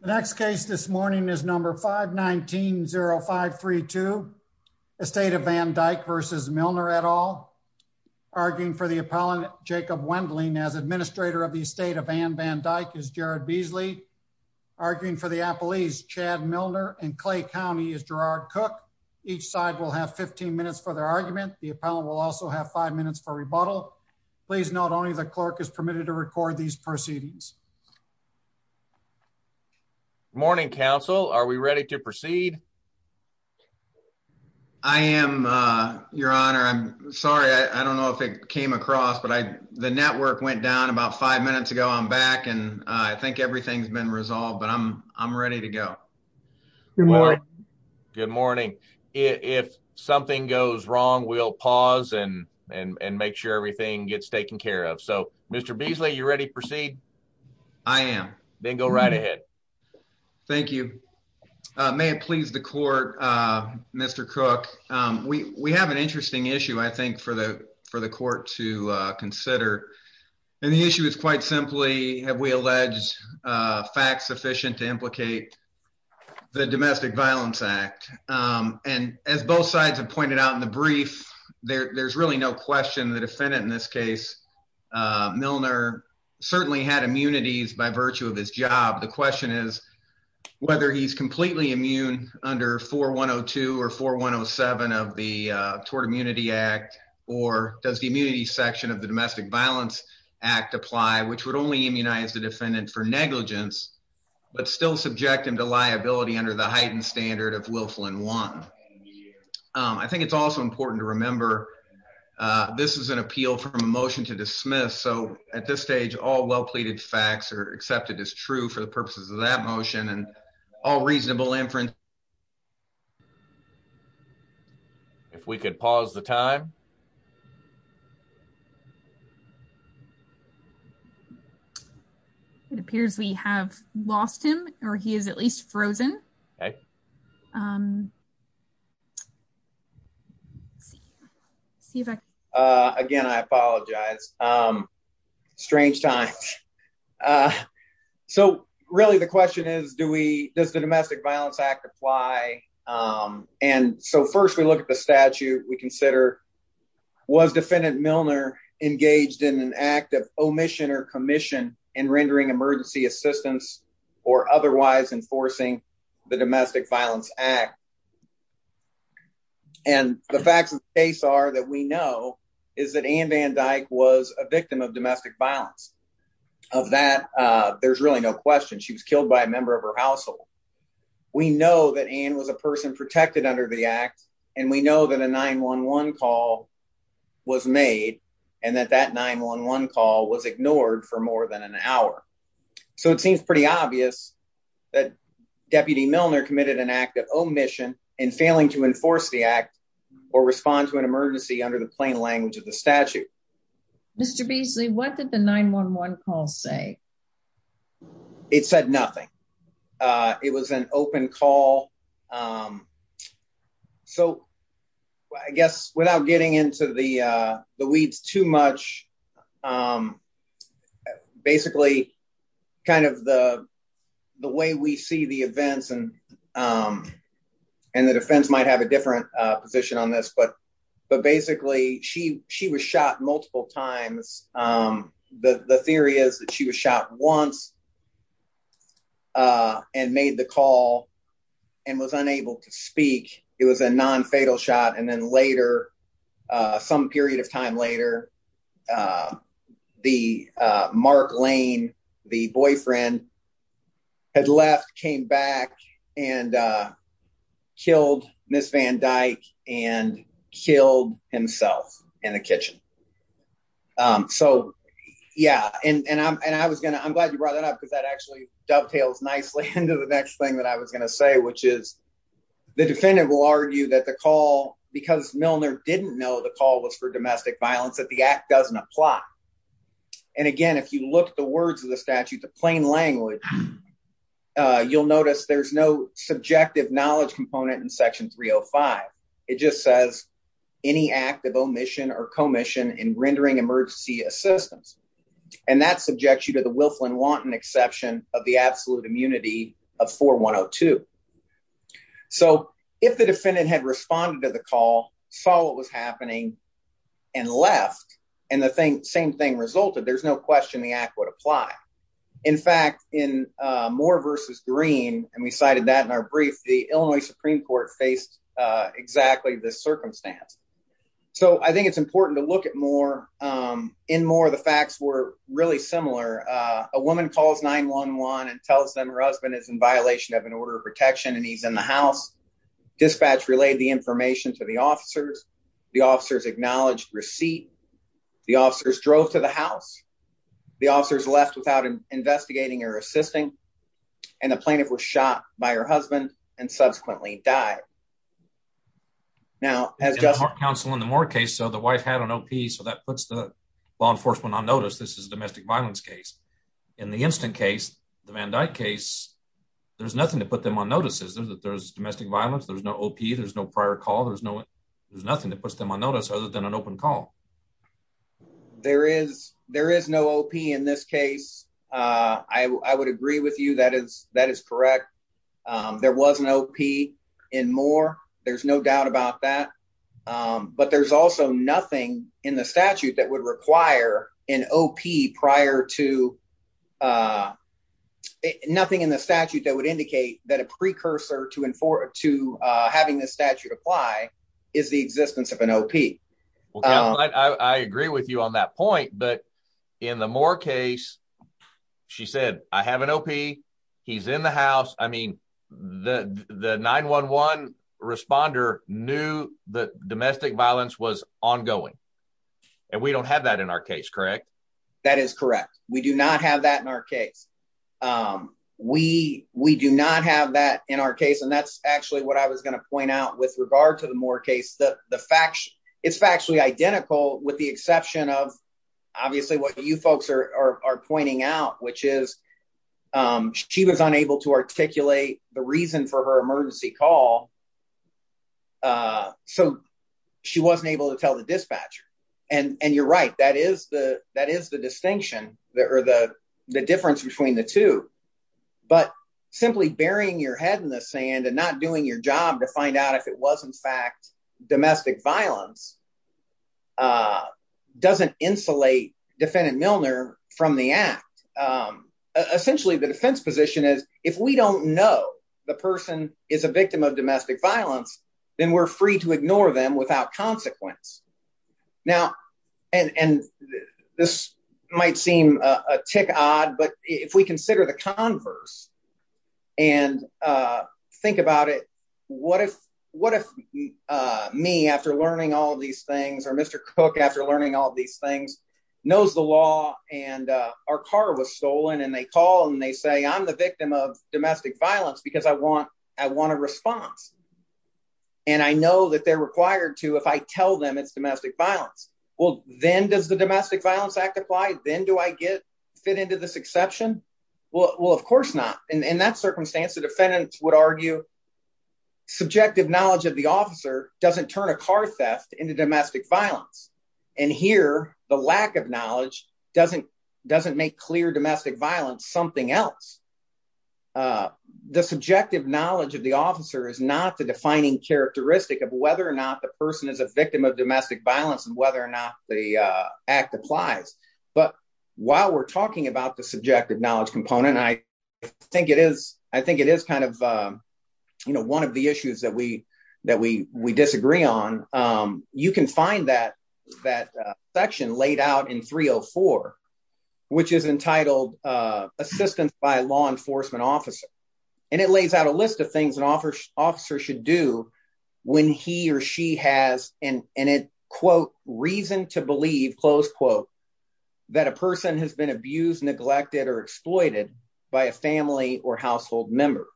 The next case this morning is number 519-0532, Estate of Van Dyke v. Milner et al. Arguing for the appellant Jacob Wendling as administrator of the Estate of Ann Van Dyke is Jared Beasley. Arguing for the appellees Chad Milner and Clay County is Gerard Cook. Each side will have 15 minutes for their argument. The appellant will also have five minutes for rebuttal. Please note only the clerk is permitted to record these proceedings. Morning counsel are we ready to proceed? I am your honor. I'm sorry I don't know if it came across but I the network went down about five minutes ago. I'm back and I think everything's been resolved but I'm ready to go. Good morning. Good morning. If something goes wrong we'll pause and make sure everything gets taken care of. So Mr. Beasley you ready to proceed? I am. Then go right ahead. Thank you. May it please the court Mr. Cook we we have an interesting issue I think for the for the court to consider and the issue is quite simply have we alleged facts sufficient to implicate the domestic violence act and as both sides have pointed out in the brief there there's really no question the defendant in this case Milner certainly had immunities by virtue of his job. The question is whether he's completely immune under 4102 or 4107 of the tort immunity act or does the immunity section of the domestic violence act apply which would only immunize the defendant for negligence but still subject him to liability under the heightened standard of Wilflin one. I think it's also important to remember this is an appeal from a motion to dismiss so at this stage all well pleaded facts are accepted as true for the purposes of that motion and all reasonable inference. If we could pause the time. It appears we have lost him or he is at least frozen. Again I apologize strange times so really the question is do we does the domestic violence act apply and so first we look at the statute we consider was defendant Milner engaged in an act of omission or commission in rendering emergency assistance or otherwise enforcing the domestic violence act and the facts of the case are that we know is that Ann Van Dyke was a victim of domestic violence. Of that there's really no question she was killed by a member of her household. We know that Ann was a person protected under the act and we know that a 9-1-1 call was made and that that 9-1-1 call was ignored for more than an hour. So it seems pretty obvious that deputy Milner committed an act of omission and failing to enforce the act or respond to an emergency under the plain language of the statute. Mr. Beasley what did the 9-1-1 call say? It said nothing. It was an open call so I guess without getting into the weeds too much basically kind of the way we see the events and the defense might have a different position on this but basically she was shot multiple times. The theory is that she was shot once and made the call and was unable to speak. It was a non-fatal shot and then later some period of time later the Mark Lane the boyfriend had left came back and killed Miss Van Dyke and killed himself in the kitchen. So yeah and I'm glad you brought that up because that actually dovetails nicely into the next thing that I was going to say which is the defendant will argue that the call because Milner didn't know the call was for domestic violence that the act doesn't apply. And again if you look at the words of the statute the plain language you'll notice there's no subjective knowledge component in section 305. It just says any act of omission or commission in rendering emergency assistance and that subjects you to exception of the absolute immunity of 4102. So if the defendant had responded to the call saw what was happening and left and the same thing resulted there's no question the act would apply. In fact in Moore versus Green and we cited that in our brief the Illinois Supreme Court faced exactly this circumstance. So I think it's important to look at Moore. In Moore the facts were really similar. A woman calls 9-1-1 and tells them her husband is in violation of an order of protection and he's in the house. Dispatch relayed the information to the officers. The officers acknowledged receipt. The officers drove to the house. The officers left without investigating or assisting and the plaintiff was shot by her husband and subsequently died. Now as counsel in the Moore case so the wife had an op so that puts the law enforcement on notice. This is a domestic violence case. In the instant case, the Van Dyke case, there's nothing to put them on notice. There's domestic violence. There's no op. There's no prior call. There's nothing that puts them on notice other than an open call. There is no op in this case. I would agree with you that is correct. There was an op in Moore. There's no doubt about that. But there's also nothing in the statute that would require an op prior to nothing in the statute that would indicate that a precursor to having this statute apply is the existence of an op. I agree with you on that point. But in the Moore case, she said I have an op. He's in the house. The 9-1-1 responder knew that domestic violence was ongoing and we don't have that in our case, correct? That is correct. We do not have that in our case. We do not have that in our case and that's actually what I was going to point out with regard to the Moore case. It's factually identical with the exception of obviously what you folks are pointing out which is she was unable to articulate the reason for her emergency call so she wasn't able to tell the dispatcher. And you're right, that is the distinction or the difference between the two. But simply burying your head in the sand and not doing your job to find out if it was in fact domestic violence doesn't insulate defendant Milner from the act. Essentially the defense position is if we don't know the person is a victim of domestic violence, then we're free to ignore them without consequence. Now, and this might seem a tick odd, but if we consider the converse and think about it, what if me after learning all these things or Mr. Cook after learning all these things knows the law and our car was stolen and they call and they say I'm the victim of domestic violence because I want a response. And I know that they're required to if I tell them it's domestic violence. Well, then does the domestic violence act apply? Then do I fit into this exception? Well, of course not. In that circumstance, the defendants would argue subjective knowledge of the officer doesn't turn a car theft into domestic violence. And here the lack of knowledge doesn't make clear domestic violence something else. The subjective knowledge of the officer is not the defining characteristic of whether or not the person is a victim of domestic violence and whether or not the act applies. But while we're talking about the subjective knowledge component, I think it is one of the issues that we disagree on. You can find that section laid out in 304, which is entitled assistance by law enforcement officer. And it lays out a list of things an officer should do when he or she has an quote reason to believe, close quote, that a person has been abused, neglected or exploited by a family or household member.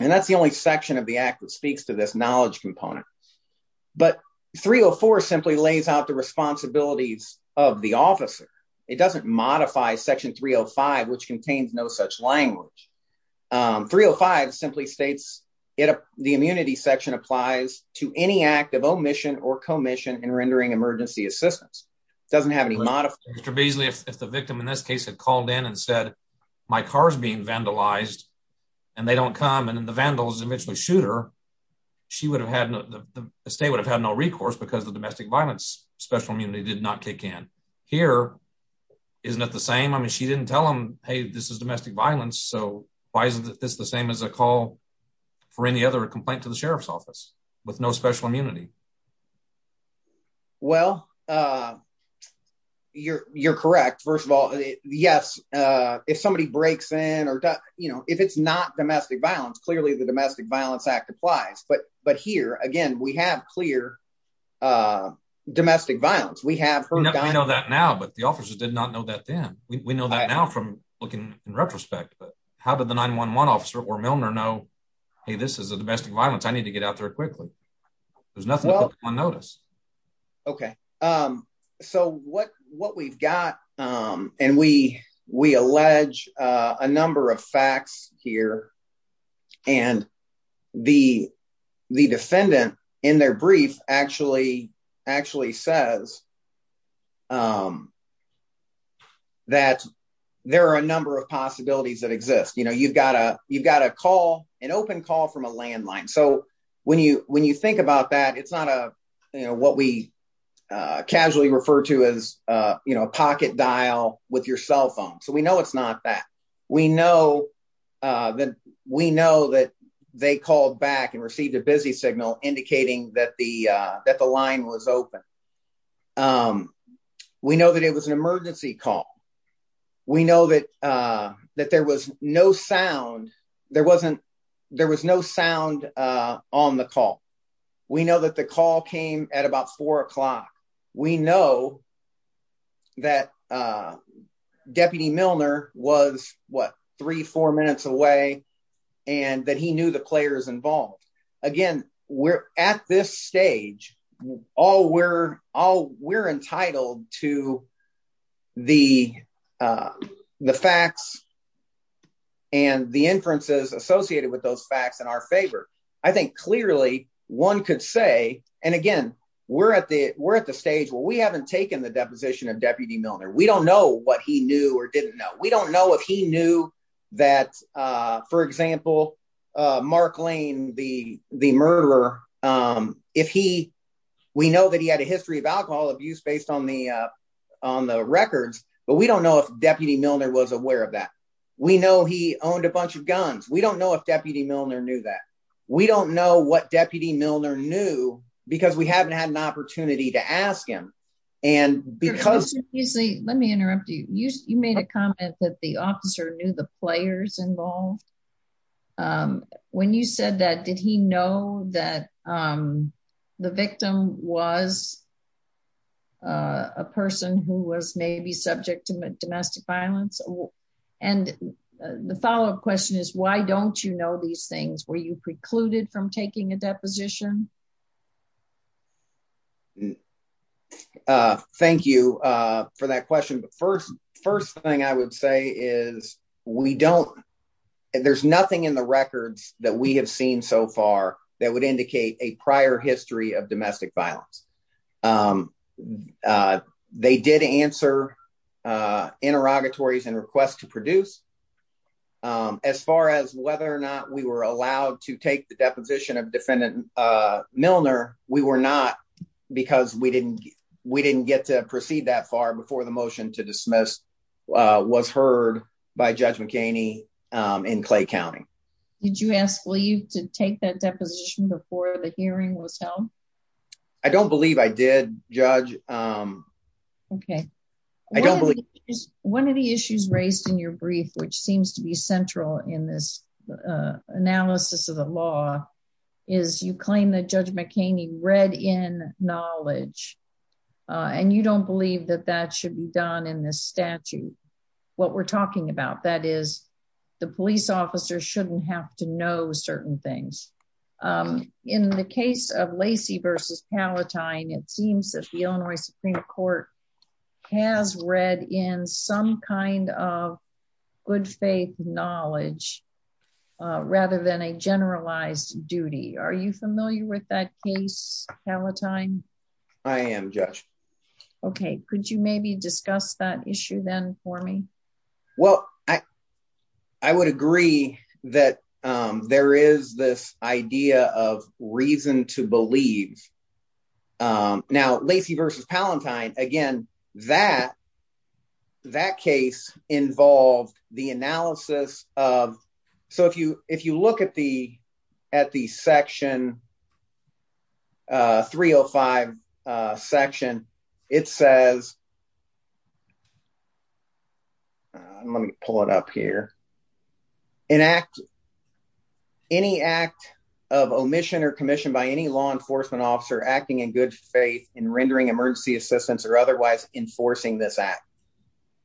And that's the only section of the act that speaks to this knowledge component. But 304 simply lays out the responsibilities of the officer. It doesn't modify section 305, which contains no such language. 305 simply states, the immunity section applies to any act of omission or commission in rendering emergency assistance. It doesn't have any modifications. Mr. Beasley, if the victim in this case had called in and said, my car is being vandalized and they don't come and the vandals eventually shoot her, the state would have had no recourse because the domestic violence special immunity did not kick in. Here, isn't it the same? I mean, she didn't tell him, Hey, this is domestic violence. So why isn't this the same as a call for any other complaint to the sheriff's office with no special immunity? Well, uh, you're, you're correct. First of all, yes. Uh, if somebody breaks in or, you know, if it's not domestic violence, clearly the domestic violence act applies, but, but here again, we have clear, uh, domestic violence. We have, we know that now, but the officers did not know that then we know that now from looking in retrospect, but how did the nine one one officer or Milner know, Hey, this is a domestic violence. I need to get out there quickly. There's nothing on notice. Okay. Um, so what, what we've got, um, and we, we allege, uh, a number of facts here and the, the defendant in their brief actually, actually says, um, that there are a number of possibilities that exist. You know, you've got a, you've got a call, an open call from a landline. So when you, when you think about that, it's not a, you know, what we, uh, casually refer to as, uh, you know, a pocket dial with your cell phone. So we know it's not that we know, uh, that we know that they called back and received a busy signal indicating that the, uh, that the line was open. Um, we know that it was an emergency call. We know that, uh, that there was no sound. There wasn't, there was no sound, uh, on the call. We know that the call came at about four o'clock. We know that, uh, deputy Milner was what three, four minutes away and that he knew the players involved. Again, we're at this stage, all we're, all we're entitled to the, uh, the facts and the inferences associated with those facts in our favor. I think clearly one could say, and again, we're at the, we're at the stage where we haven't taken the deposition of deputy Milner. We don't know what he knew or didn't know. We don't know if he knew that, uh, for example, uh, Mark Lane, the, the murderer, um, if he, we know that he had a history of alcohol abuse based on the, uh, on the records, but we don't know if deputy Milner was aware of that. We know he owned a bunch of guns. We don't know if deputy Milner knew that we don't know what deputy Milner knew because we haven't had an opportunity to ask him. And because, let me interrupt you. You, you made a comment that the officer knew the players involved. Um, when you said that, did he know that, um, the victim was, uh, a person who was maybe subject to domestic violence? And the follow-up question is why don't you know these things? Why don't you take the deposition? Uh, thank you, uh, for that question. But first, first thing I would say is we don't, there's nothing in the records that we have seen so far that would indicate a prior history of domestic violence. Um, uh, they did answer, uh, interrogatories and requests to produce, um, as whether or not we were allowed to take the deposition of defendant, uh, Milner. We were not because we didn't, we didn't get to proceed that far before the motion to dismiss, uh, was heard by judge McCaney, um, in Clay County. Did you ask leave to take that deposition before the hearing was held? I don't believe I did judge. Um, okay. I don't believe one of the issues raised in your brief, which seems to be central in this, uh, analysis of the law is you claim that judge McCaney read in knowledge, uh, and you don't believe that that should be done in this statute. What we're talking about, that is the police officer shouldn't have to know certain things. Um, in the case of Lacey versus Palatine, it seems that the Illinois Supreme Court has read in some kind of good faith knowledge, uh, rather than a generalized duty. Are you familiar with that case Palatine? I am judge. Okay. Could you maybe discuss that issue then for me? Well, I, I would agree that, um, there is this idea of reason to believe, um, now Lacey versus Palatine, again, that, that case involved the analysis of, so if you, if you look at the, at the section, uh, three Oh five, uh, section, it says, let me pull it up here and act any act of omission or commission by any law enforcement officer acting in good faith and rendering emergency assistance or otherwise enforcing this act.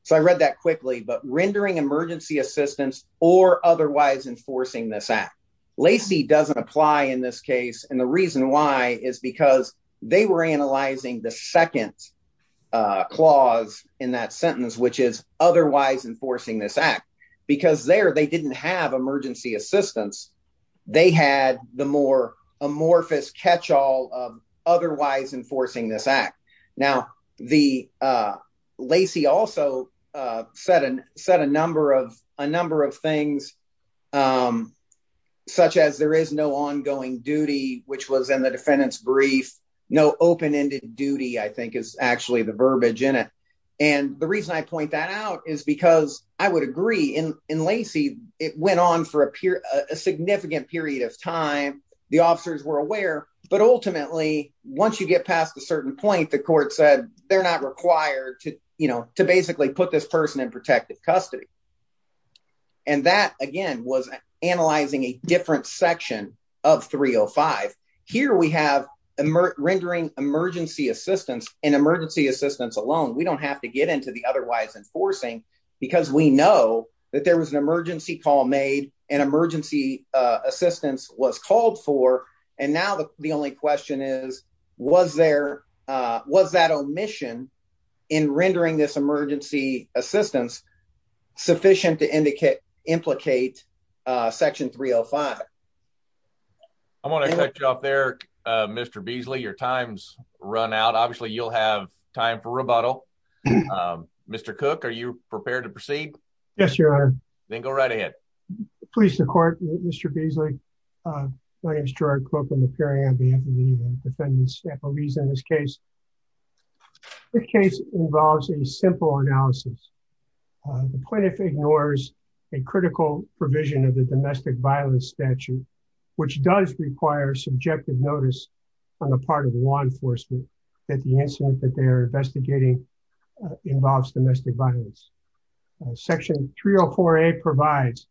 So I read that quickly, but rendering emergency assistance or otherwise enforcing this act Lacey doesn't apply in this case. And the reason why is because they were analyzing the second, uh, clause in that sentence, which is otherwise enforcing this act because there, they didn't have emergency assistance. They had the more amorphous catchall of otherwise enforcing this act. Now the, uh, Lacey also, uh, said, uh, said a number of, a number of things, um, such as there is no ongoing duty, which was in the defendant's brief, no open ended duty, I think is actually the verbiage in it. And the reason I point that out is because I would agree in Lacey, it went on for a period, a significant period of time. The officers were aware, but ultimately once you get past a certain point, the court said they're not required to, you know, to basically put this person in protective custody. And that again, was analyzing a different section of three Oh five here. We have emerge rendering emergency assistance and emergency assistance alone. We don't have to get into the otherwise enforcing because we know that there was an emergency call made and emergency assistance was called for. And now the only question is, was there, uh, was that omission in rendering this emergency assistance sufficient to indicate implicate, uh, section three Oh five. I want to cut you off there. Uh, Mr. Beasley, your time's run out. Obviously you'll have time for rebuttal. Um, Mr. Cook, are you prepared to proceed? Yes, your honor. Then go right ahead. Please. The court, Mr. Beasley. Uh, my name is Gerard Cook. I'm appearing on behalf of the defendant's reason. This case, the case involves a simple analysis. Uh, the plaintiff ignores a critical provision of the domestic violence statute, which does require subjective notice on the part of law enforcement that the incident that they're investigating, uh, involves domestic violence. Uh, section three Oh four a provides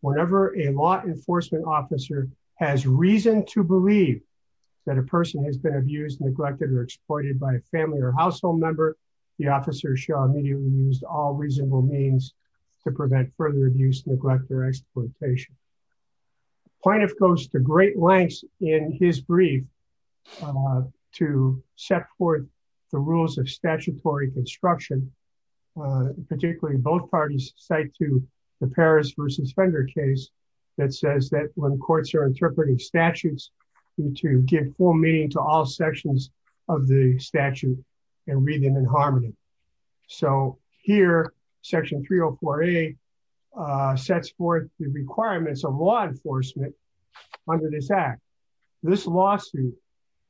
whenever a law enforcement officer has reason to believe that a person has been abused, neglected, or exploited by a family or household member. The officer show immediately used all reasonable means to prevent further abuse, neglect, or exploitation. Plaintiff goes to great lengths in his brief, uh, to set forth the rules of statutory construction, uh, particularly both parties cite to the Paris versus Fender case that says that when courts are interpreting statutes, you need to give full meaning to all sections of the statute and read in harmony. So here section three Oh four a, uh, sets forth the requirements of law enforcement under this act. This lawsuit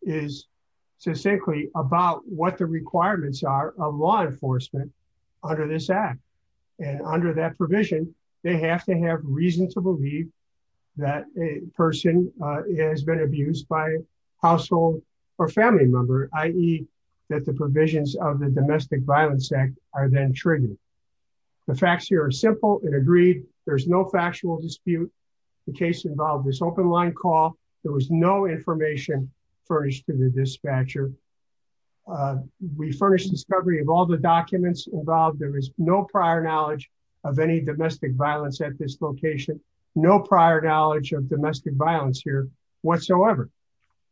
is so simply about what the requirements are on law enforcement under this act. And under that provision, they have to have reason to believe that a person, has been abused by household or family member, i.e. that the provisions of the domestic violence act are then triggered. The facts here are simple and agreed. There's no factual dispute. The case involved this open line call. There was no information furnished to the dispatcher. We furnished discovery of all the documents involved. There is no prior knowledge of any violence here whatsoever.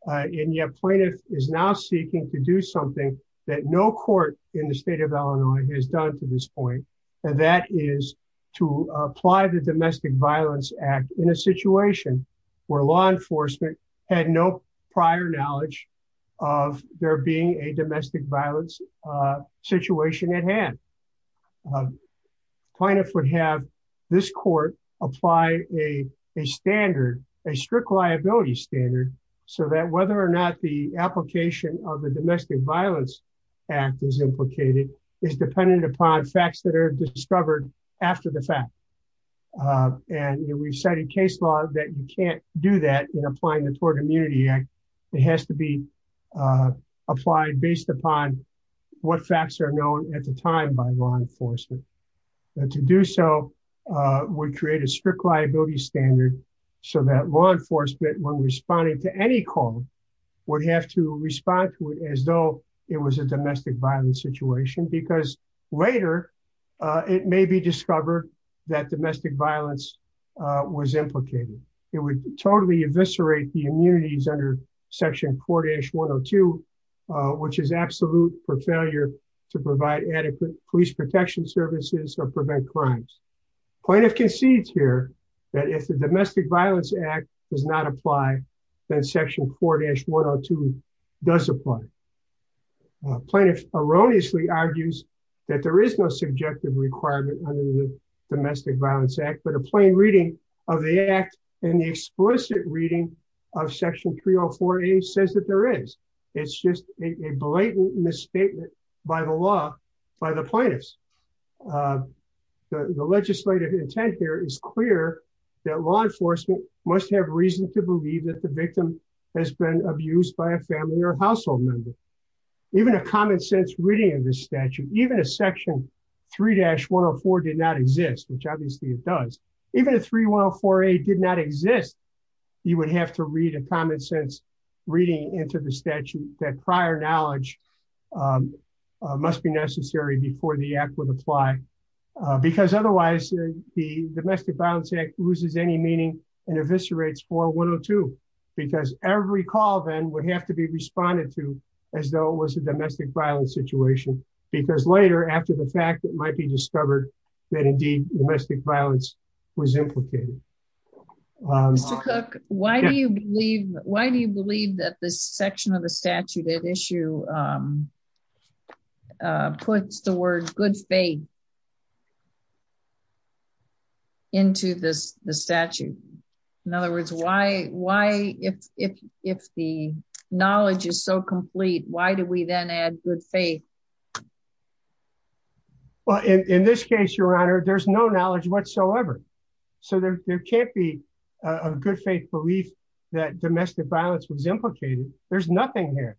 Uh, and yet plaintiff is now seeking to do something that no court in the state of Illinois has done to this point. And that is to apply the domestic violence act in a situation where law enforcement had no prior knowledge of there being a domestic violence, uh, situation at hand. Uh, plaintiff would have this court apply a, a standard, a strict liability standard so that whether or not the application of the domestic violence act is implicated is dependent upon facts that are discovered after the fact. Uh, and we've cited case law that you can't do that in applying the tort immunity act. It has to be, uh, applied based upon what facts are known at the time by law enforcement. And to do so, uh, would create a strict liability standard so that law enforcement when responding to any call would have to respond to it as though it was a domestic violence situation because later, uh, it may be discovered that domestic violence, uh, was implicated. It would totally eviscerate the immunities under section four dash one or two, uh, which is absolute for failure to provide adequate police protection services or prevent crimes. Plaintiff concedes here that if the domestic violence act does not apply, then section four dash one or two does apply. Uh, plaintiff erroneously argues that there is no subjective requirement under the domestic violence act, but a plain reading of the act and the explicit reading of section three or four eight says that there is, it's just a blatant misstatement by the law, by the plaintiffs. Uh, the legislative intent here is clear that law enforcement must have reason to believe that the victim has been abused by a family or household member. Even a common sense reading of this statute, even a section three dash one or four did not exist, which obviously it does. Even a three one Oh four eight did not exist. You would have to read a common sense reading into the statute that prior knowledge, um, uh, must be necessary before the act would apply. Uh, because otherwise the domestic violence act loses any meaning and eviscerates four one Oh two, because every call then would have to be responded to as though it was a domestic violence situation. Because later after the fact that might be discovered that indeed domestic violence was implicated. Um, Mr. Cook, why do you believe, why do you believe that this section of the statute at issue, um, uh, puts the word good faith into this, the statute. In other words, why, why, if, if, if the knowledge is so complete, why do we then add good faith? Well, in this case, Your Honor, there's no knowledge whatsoever. So there, there can't be a good faith belief that domestic violence was implicated. There's nothing here.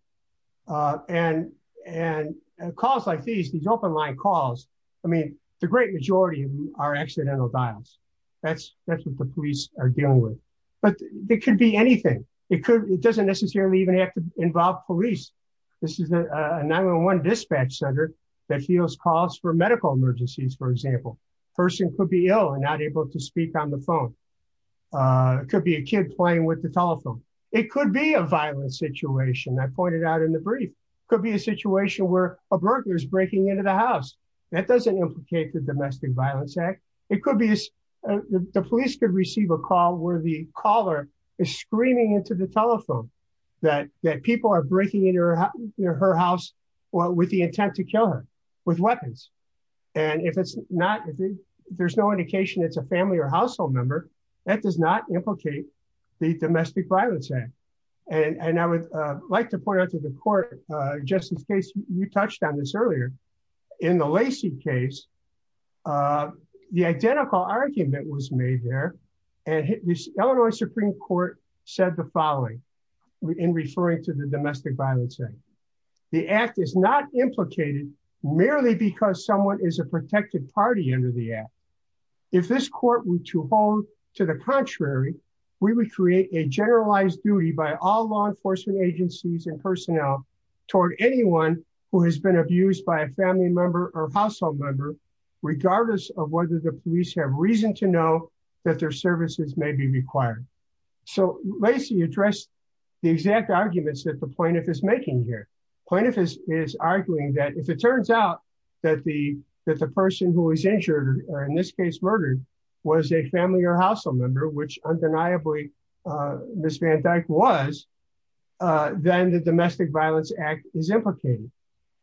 Uh, and, and calls like these, these open line calls. I mean, the great majority are accidental violence. That's, that's what the police are dealing with, but it could be anything. It could, it doesn't necessarily even have to involve police. This is a 911 dispatch center that feels calls for medical emergencies. For example, person could be ill and not able to speak on the phone. Uh, it could be a kid playing with the telephone. It could be a violent situation that pointed out in the brief could be a situation where a burglar is breaking into the house. That doesn't implicate the domestic violence act. It could be the police could receive a call where the caller is screaming into the telephone that, that people are breaking into her house with the intent to kill her with weapons. And if it's not, if there's no indication, it's a family or household member that does not implicate the domestic violence act. And I would like to point out to the court, uh, just in case you touched on this earlier in the Lacey case, uh, the identical argument was made there and hit this Illinois Supreme court said the following in referring to the domestic violence act. The act is not implicated merely because someone is a protected party under the app. If this court were to hold to the contrary, we would create a generalized duty by all law enforcement agencies and personnel toward anyone who has been abused by a family member or household member, regardless of whether the police have reason to know that their services may be required. So Lacey addressed the exact arguments that the plaintiff is making here. Plaintiff is arguing that if it turns out that the, that the person who is injured or in this case murdered was a family or household member, which undeniably, uh, Ms. Van Dyke was, uh, then the domestic violence act is implicated.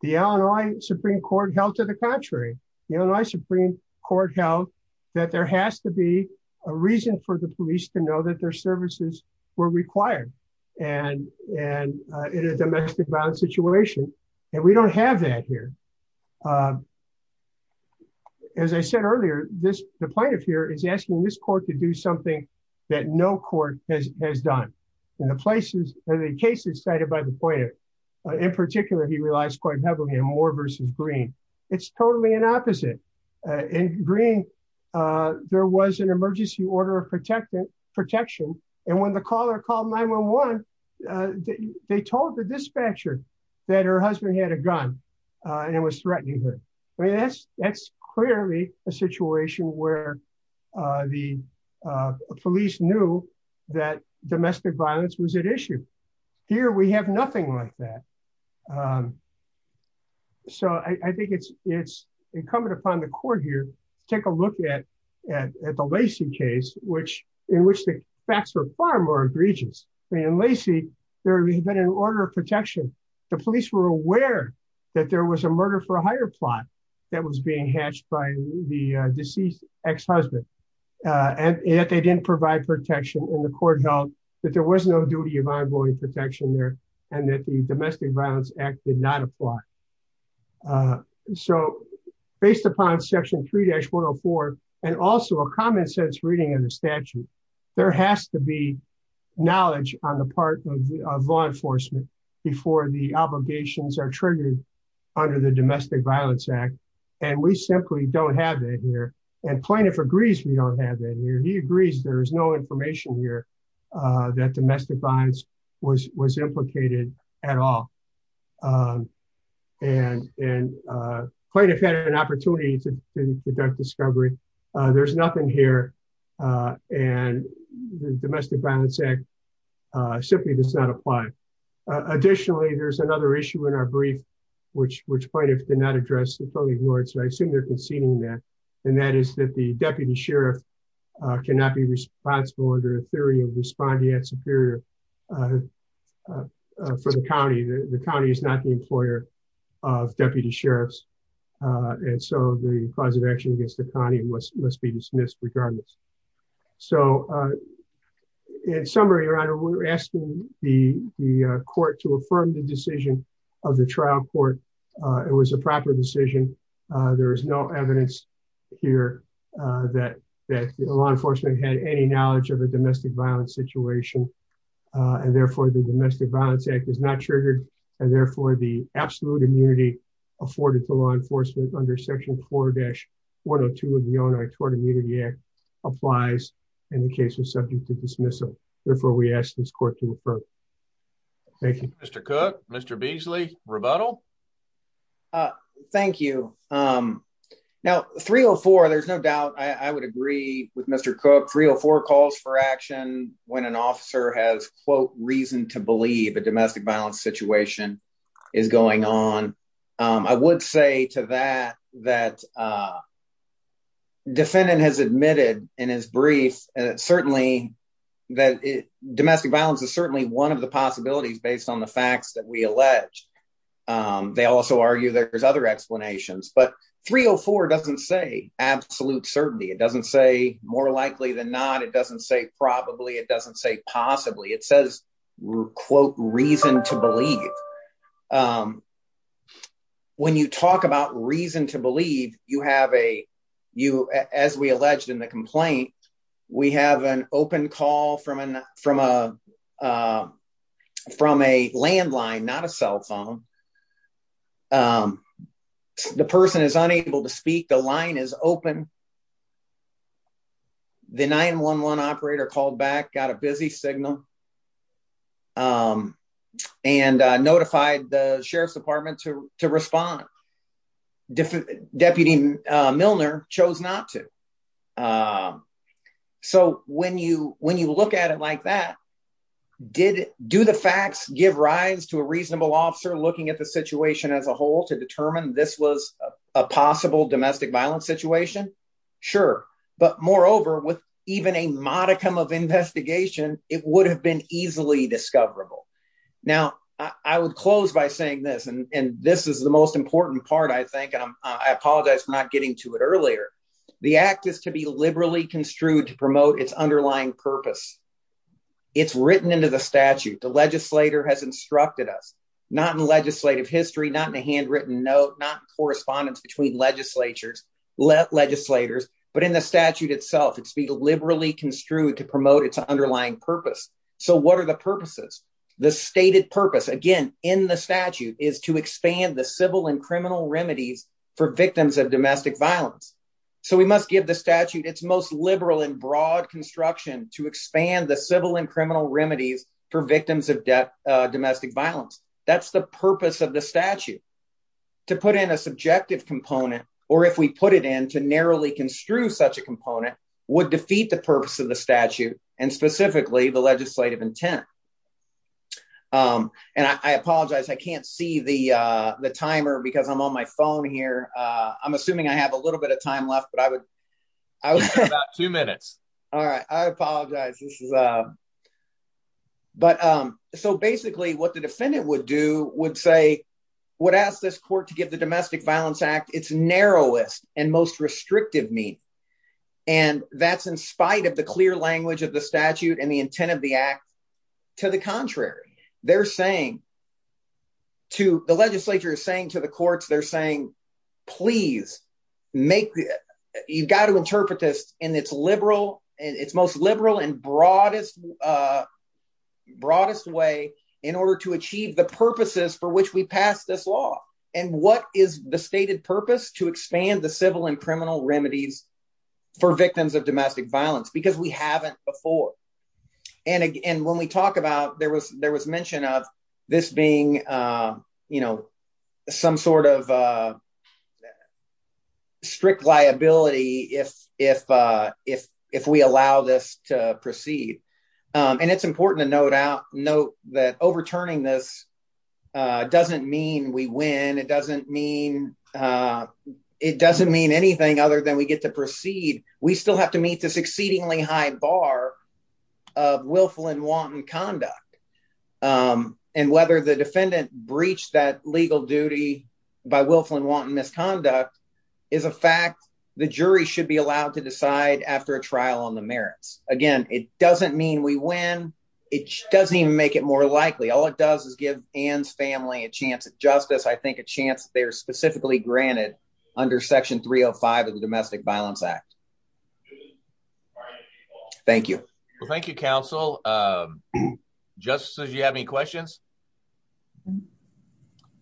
The Illinois Supreme court held to the contrary, you know, my Supreme court held that there has to be a reason for the police to know that their services were required and, and, uh, in a domestic violence situation. And we don't have that here. Uh, as I said earlier, this, the plaintiff here is asking this court to do something that no court has, has done in the places or the cases cited by the player in particular, he realized quite heavily in Moore versus green. It's totally an opposite, uh, in green. Uh, there was an emergency order of protection protection. And when the caller called 911, they told the dispatcher that her husband had a gun, uh, and it was threatening her. I mean, that's clearly a situation where, uh, the, uh, police knew that domestic violence was an issue here. We have nothing like that. Um, so I think it's, it's incumbent upon the court here to take a look at, at, at the Lacey case, which in which the facts are far more egregious. I mean, in Lacey, there had been an order of protection. The police were aware that there was a murder for hire plot that was being hatched by the deceased ex-husband, uh, and that they didn't provide protection in the court held that there was no duty of ongoing protection there. And that the domestic violence act did not apply. Uh, so based upon section three dash one Oh four, and also a common sense reading of the statute, there has to be knowledge on the part of law enforcement before the domestic violence act. And we simply don't have that here. And plaintiff agrees. We don't have that here. He agrees. There is no information here, uh, that domestic violence was, was implicated at all. Um, and, and, uh, plaintiff had an opportunity to conduct discovery. Uh, there's nothing here. Uh, and the domestic violence act, uh, simply does not apply. Additionally, there's another issue in our brief, which, which plaintiff did not address the fully ignored. So I assume they're conceding that, and that is that the deputy sheriff, uh, cannot be responsible under a theory of responding at superior, uh, uh, for the county, the county is not the employer of deputy sheriffs. Uh, and so the cause of action against the county must be dismissed regardless. So, uh, in summary, your honor, we're asking the court to affirm the decision of the trial court. Uh, it was a proper decision. Uh, there is no evidence here, uh, that, that law enforcement had any knowledge of a domestic violence situation. Uh, and therefore the domestic violence act is not triggered. And therefore the absolute immunity afforded to law immunity act applies in the case of subject to dismissal. Therefore we ask this court to refer. Thank you, Mr. Cook, Mr. Beasley rebuttal. Uh, thank you. Um, now three or four, there's no doubt. I would agree with Mr. Cook three or four calls for action when an officer has quote reason to believe a domestic violence situation is going on. Um, I would say to that, that, uh, defendant has admitted in his brief, and it certainly that domestic violence is certainly one of the possibilities based on the facts that we allege. Um, they also argue that there's other explanations, but three Oh four doesn't say absolute certainty. It doesn't say more likely than not. It doesn't say probably it doesn't say possibly it says quote reason to believe. Um, when you talk about reason to believe you have a, you, as we alleged in the complaint, we have an open call from an, from a, um, from a landline, not a cell phone. Um, the person is unable to speak. The line is open. The 911 operator called back, got a busy signal, um, and notified the sheriff's department to, to respond. Deputy Milner chose not to. Um, so when you, when you look at it like that, did do the facts give rise to a reasonable officer looking at the situation as a whole to determine this was a possible domestic violence situation? Sure. But moreover, with even a modicum of investigation, it would have been easily discoverable. Now I would close by saying this, and this is the most important part, I think, and I apologize for not getting to it earlier. The act is to be liberally construed to promote its underlying purpose. It's written into the statute. The legislator has instructed us not in legislative history, not in a handwritten note, not correspondence between legislatures, legislators, but in the statute itself, it's be liberally construed to promote its underlying purpose. So what are the purposes? The stated purpose again, in the statute is to expand the civil and criminal remedies for victims of domestic violence. So we must give the statute its most liberal and broad construction to expand the civil and criminal remedies for victims of domestic violence. That's the purpose of the statute. To put in a subjective component, or if we put it in to narrowly construe such a component would defeat the purpose of the statute and specifically the legislative intent. And I apologize, I can't see the timer because I'm on my phone here. I'm assuming I have a little bit of time left, but I would, I would have about two minutes. All right, I apologize. But so basically, what the defendant would do would say, would ask this court to get the Domestic Violence Act, its narrowest and most restrictive mean. And that's in spite of the clear language of the statute and the intent of the act. To the contrary, they're saying to the legislature is saying to the courts, they're saying, please make, you've got to interpret this in its liberal and its most liberal and broadest, broadest way in order to achieve the purposes for which we pass this law. And what is the stated purpose to expand the civil and criminal remedies for victims of domestic violence, because we haven't before. And again, when we talk about there was mention of this being some sort of strict liability if we allow this to proceed. And it's important to note that overturning this doesn't mean we win. It doesn't mean anything other than we get to proceed. We still have to meet this exceedingly high bar of willful and wanton conduct. And whether the defendant breached that legal duty by willful and wanton misconduct is a fact the jury should be allowed to decide after a trial on the merits. Again, it doesn't mean we win. It doesn't even make it more likely. All it does is give Anne's family a chance at justice. I think a chance they're specifically granted under Section 305 of the Domestic Violence Act. All right. Thank you. Well, thank you, counsel. Justices, you have any questions?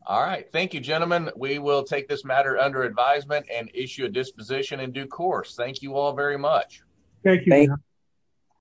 All right. Thank you, gentlemen. We will take this matter under advisement and issue a disposition in due course. Thank you all very much. Thank you.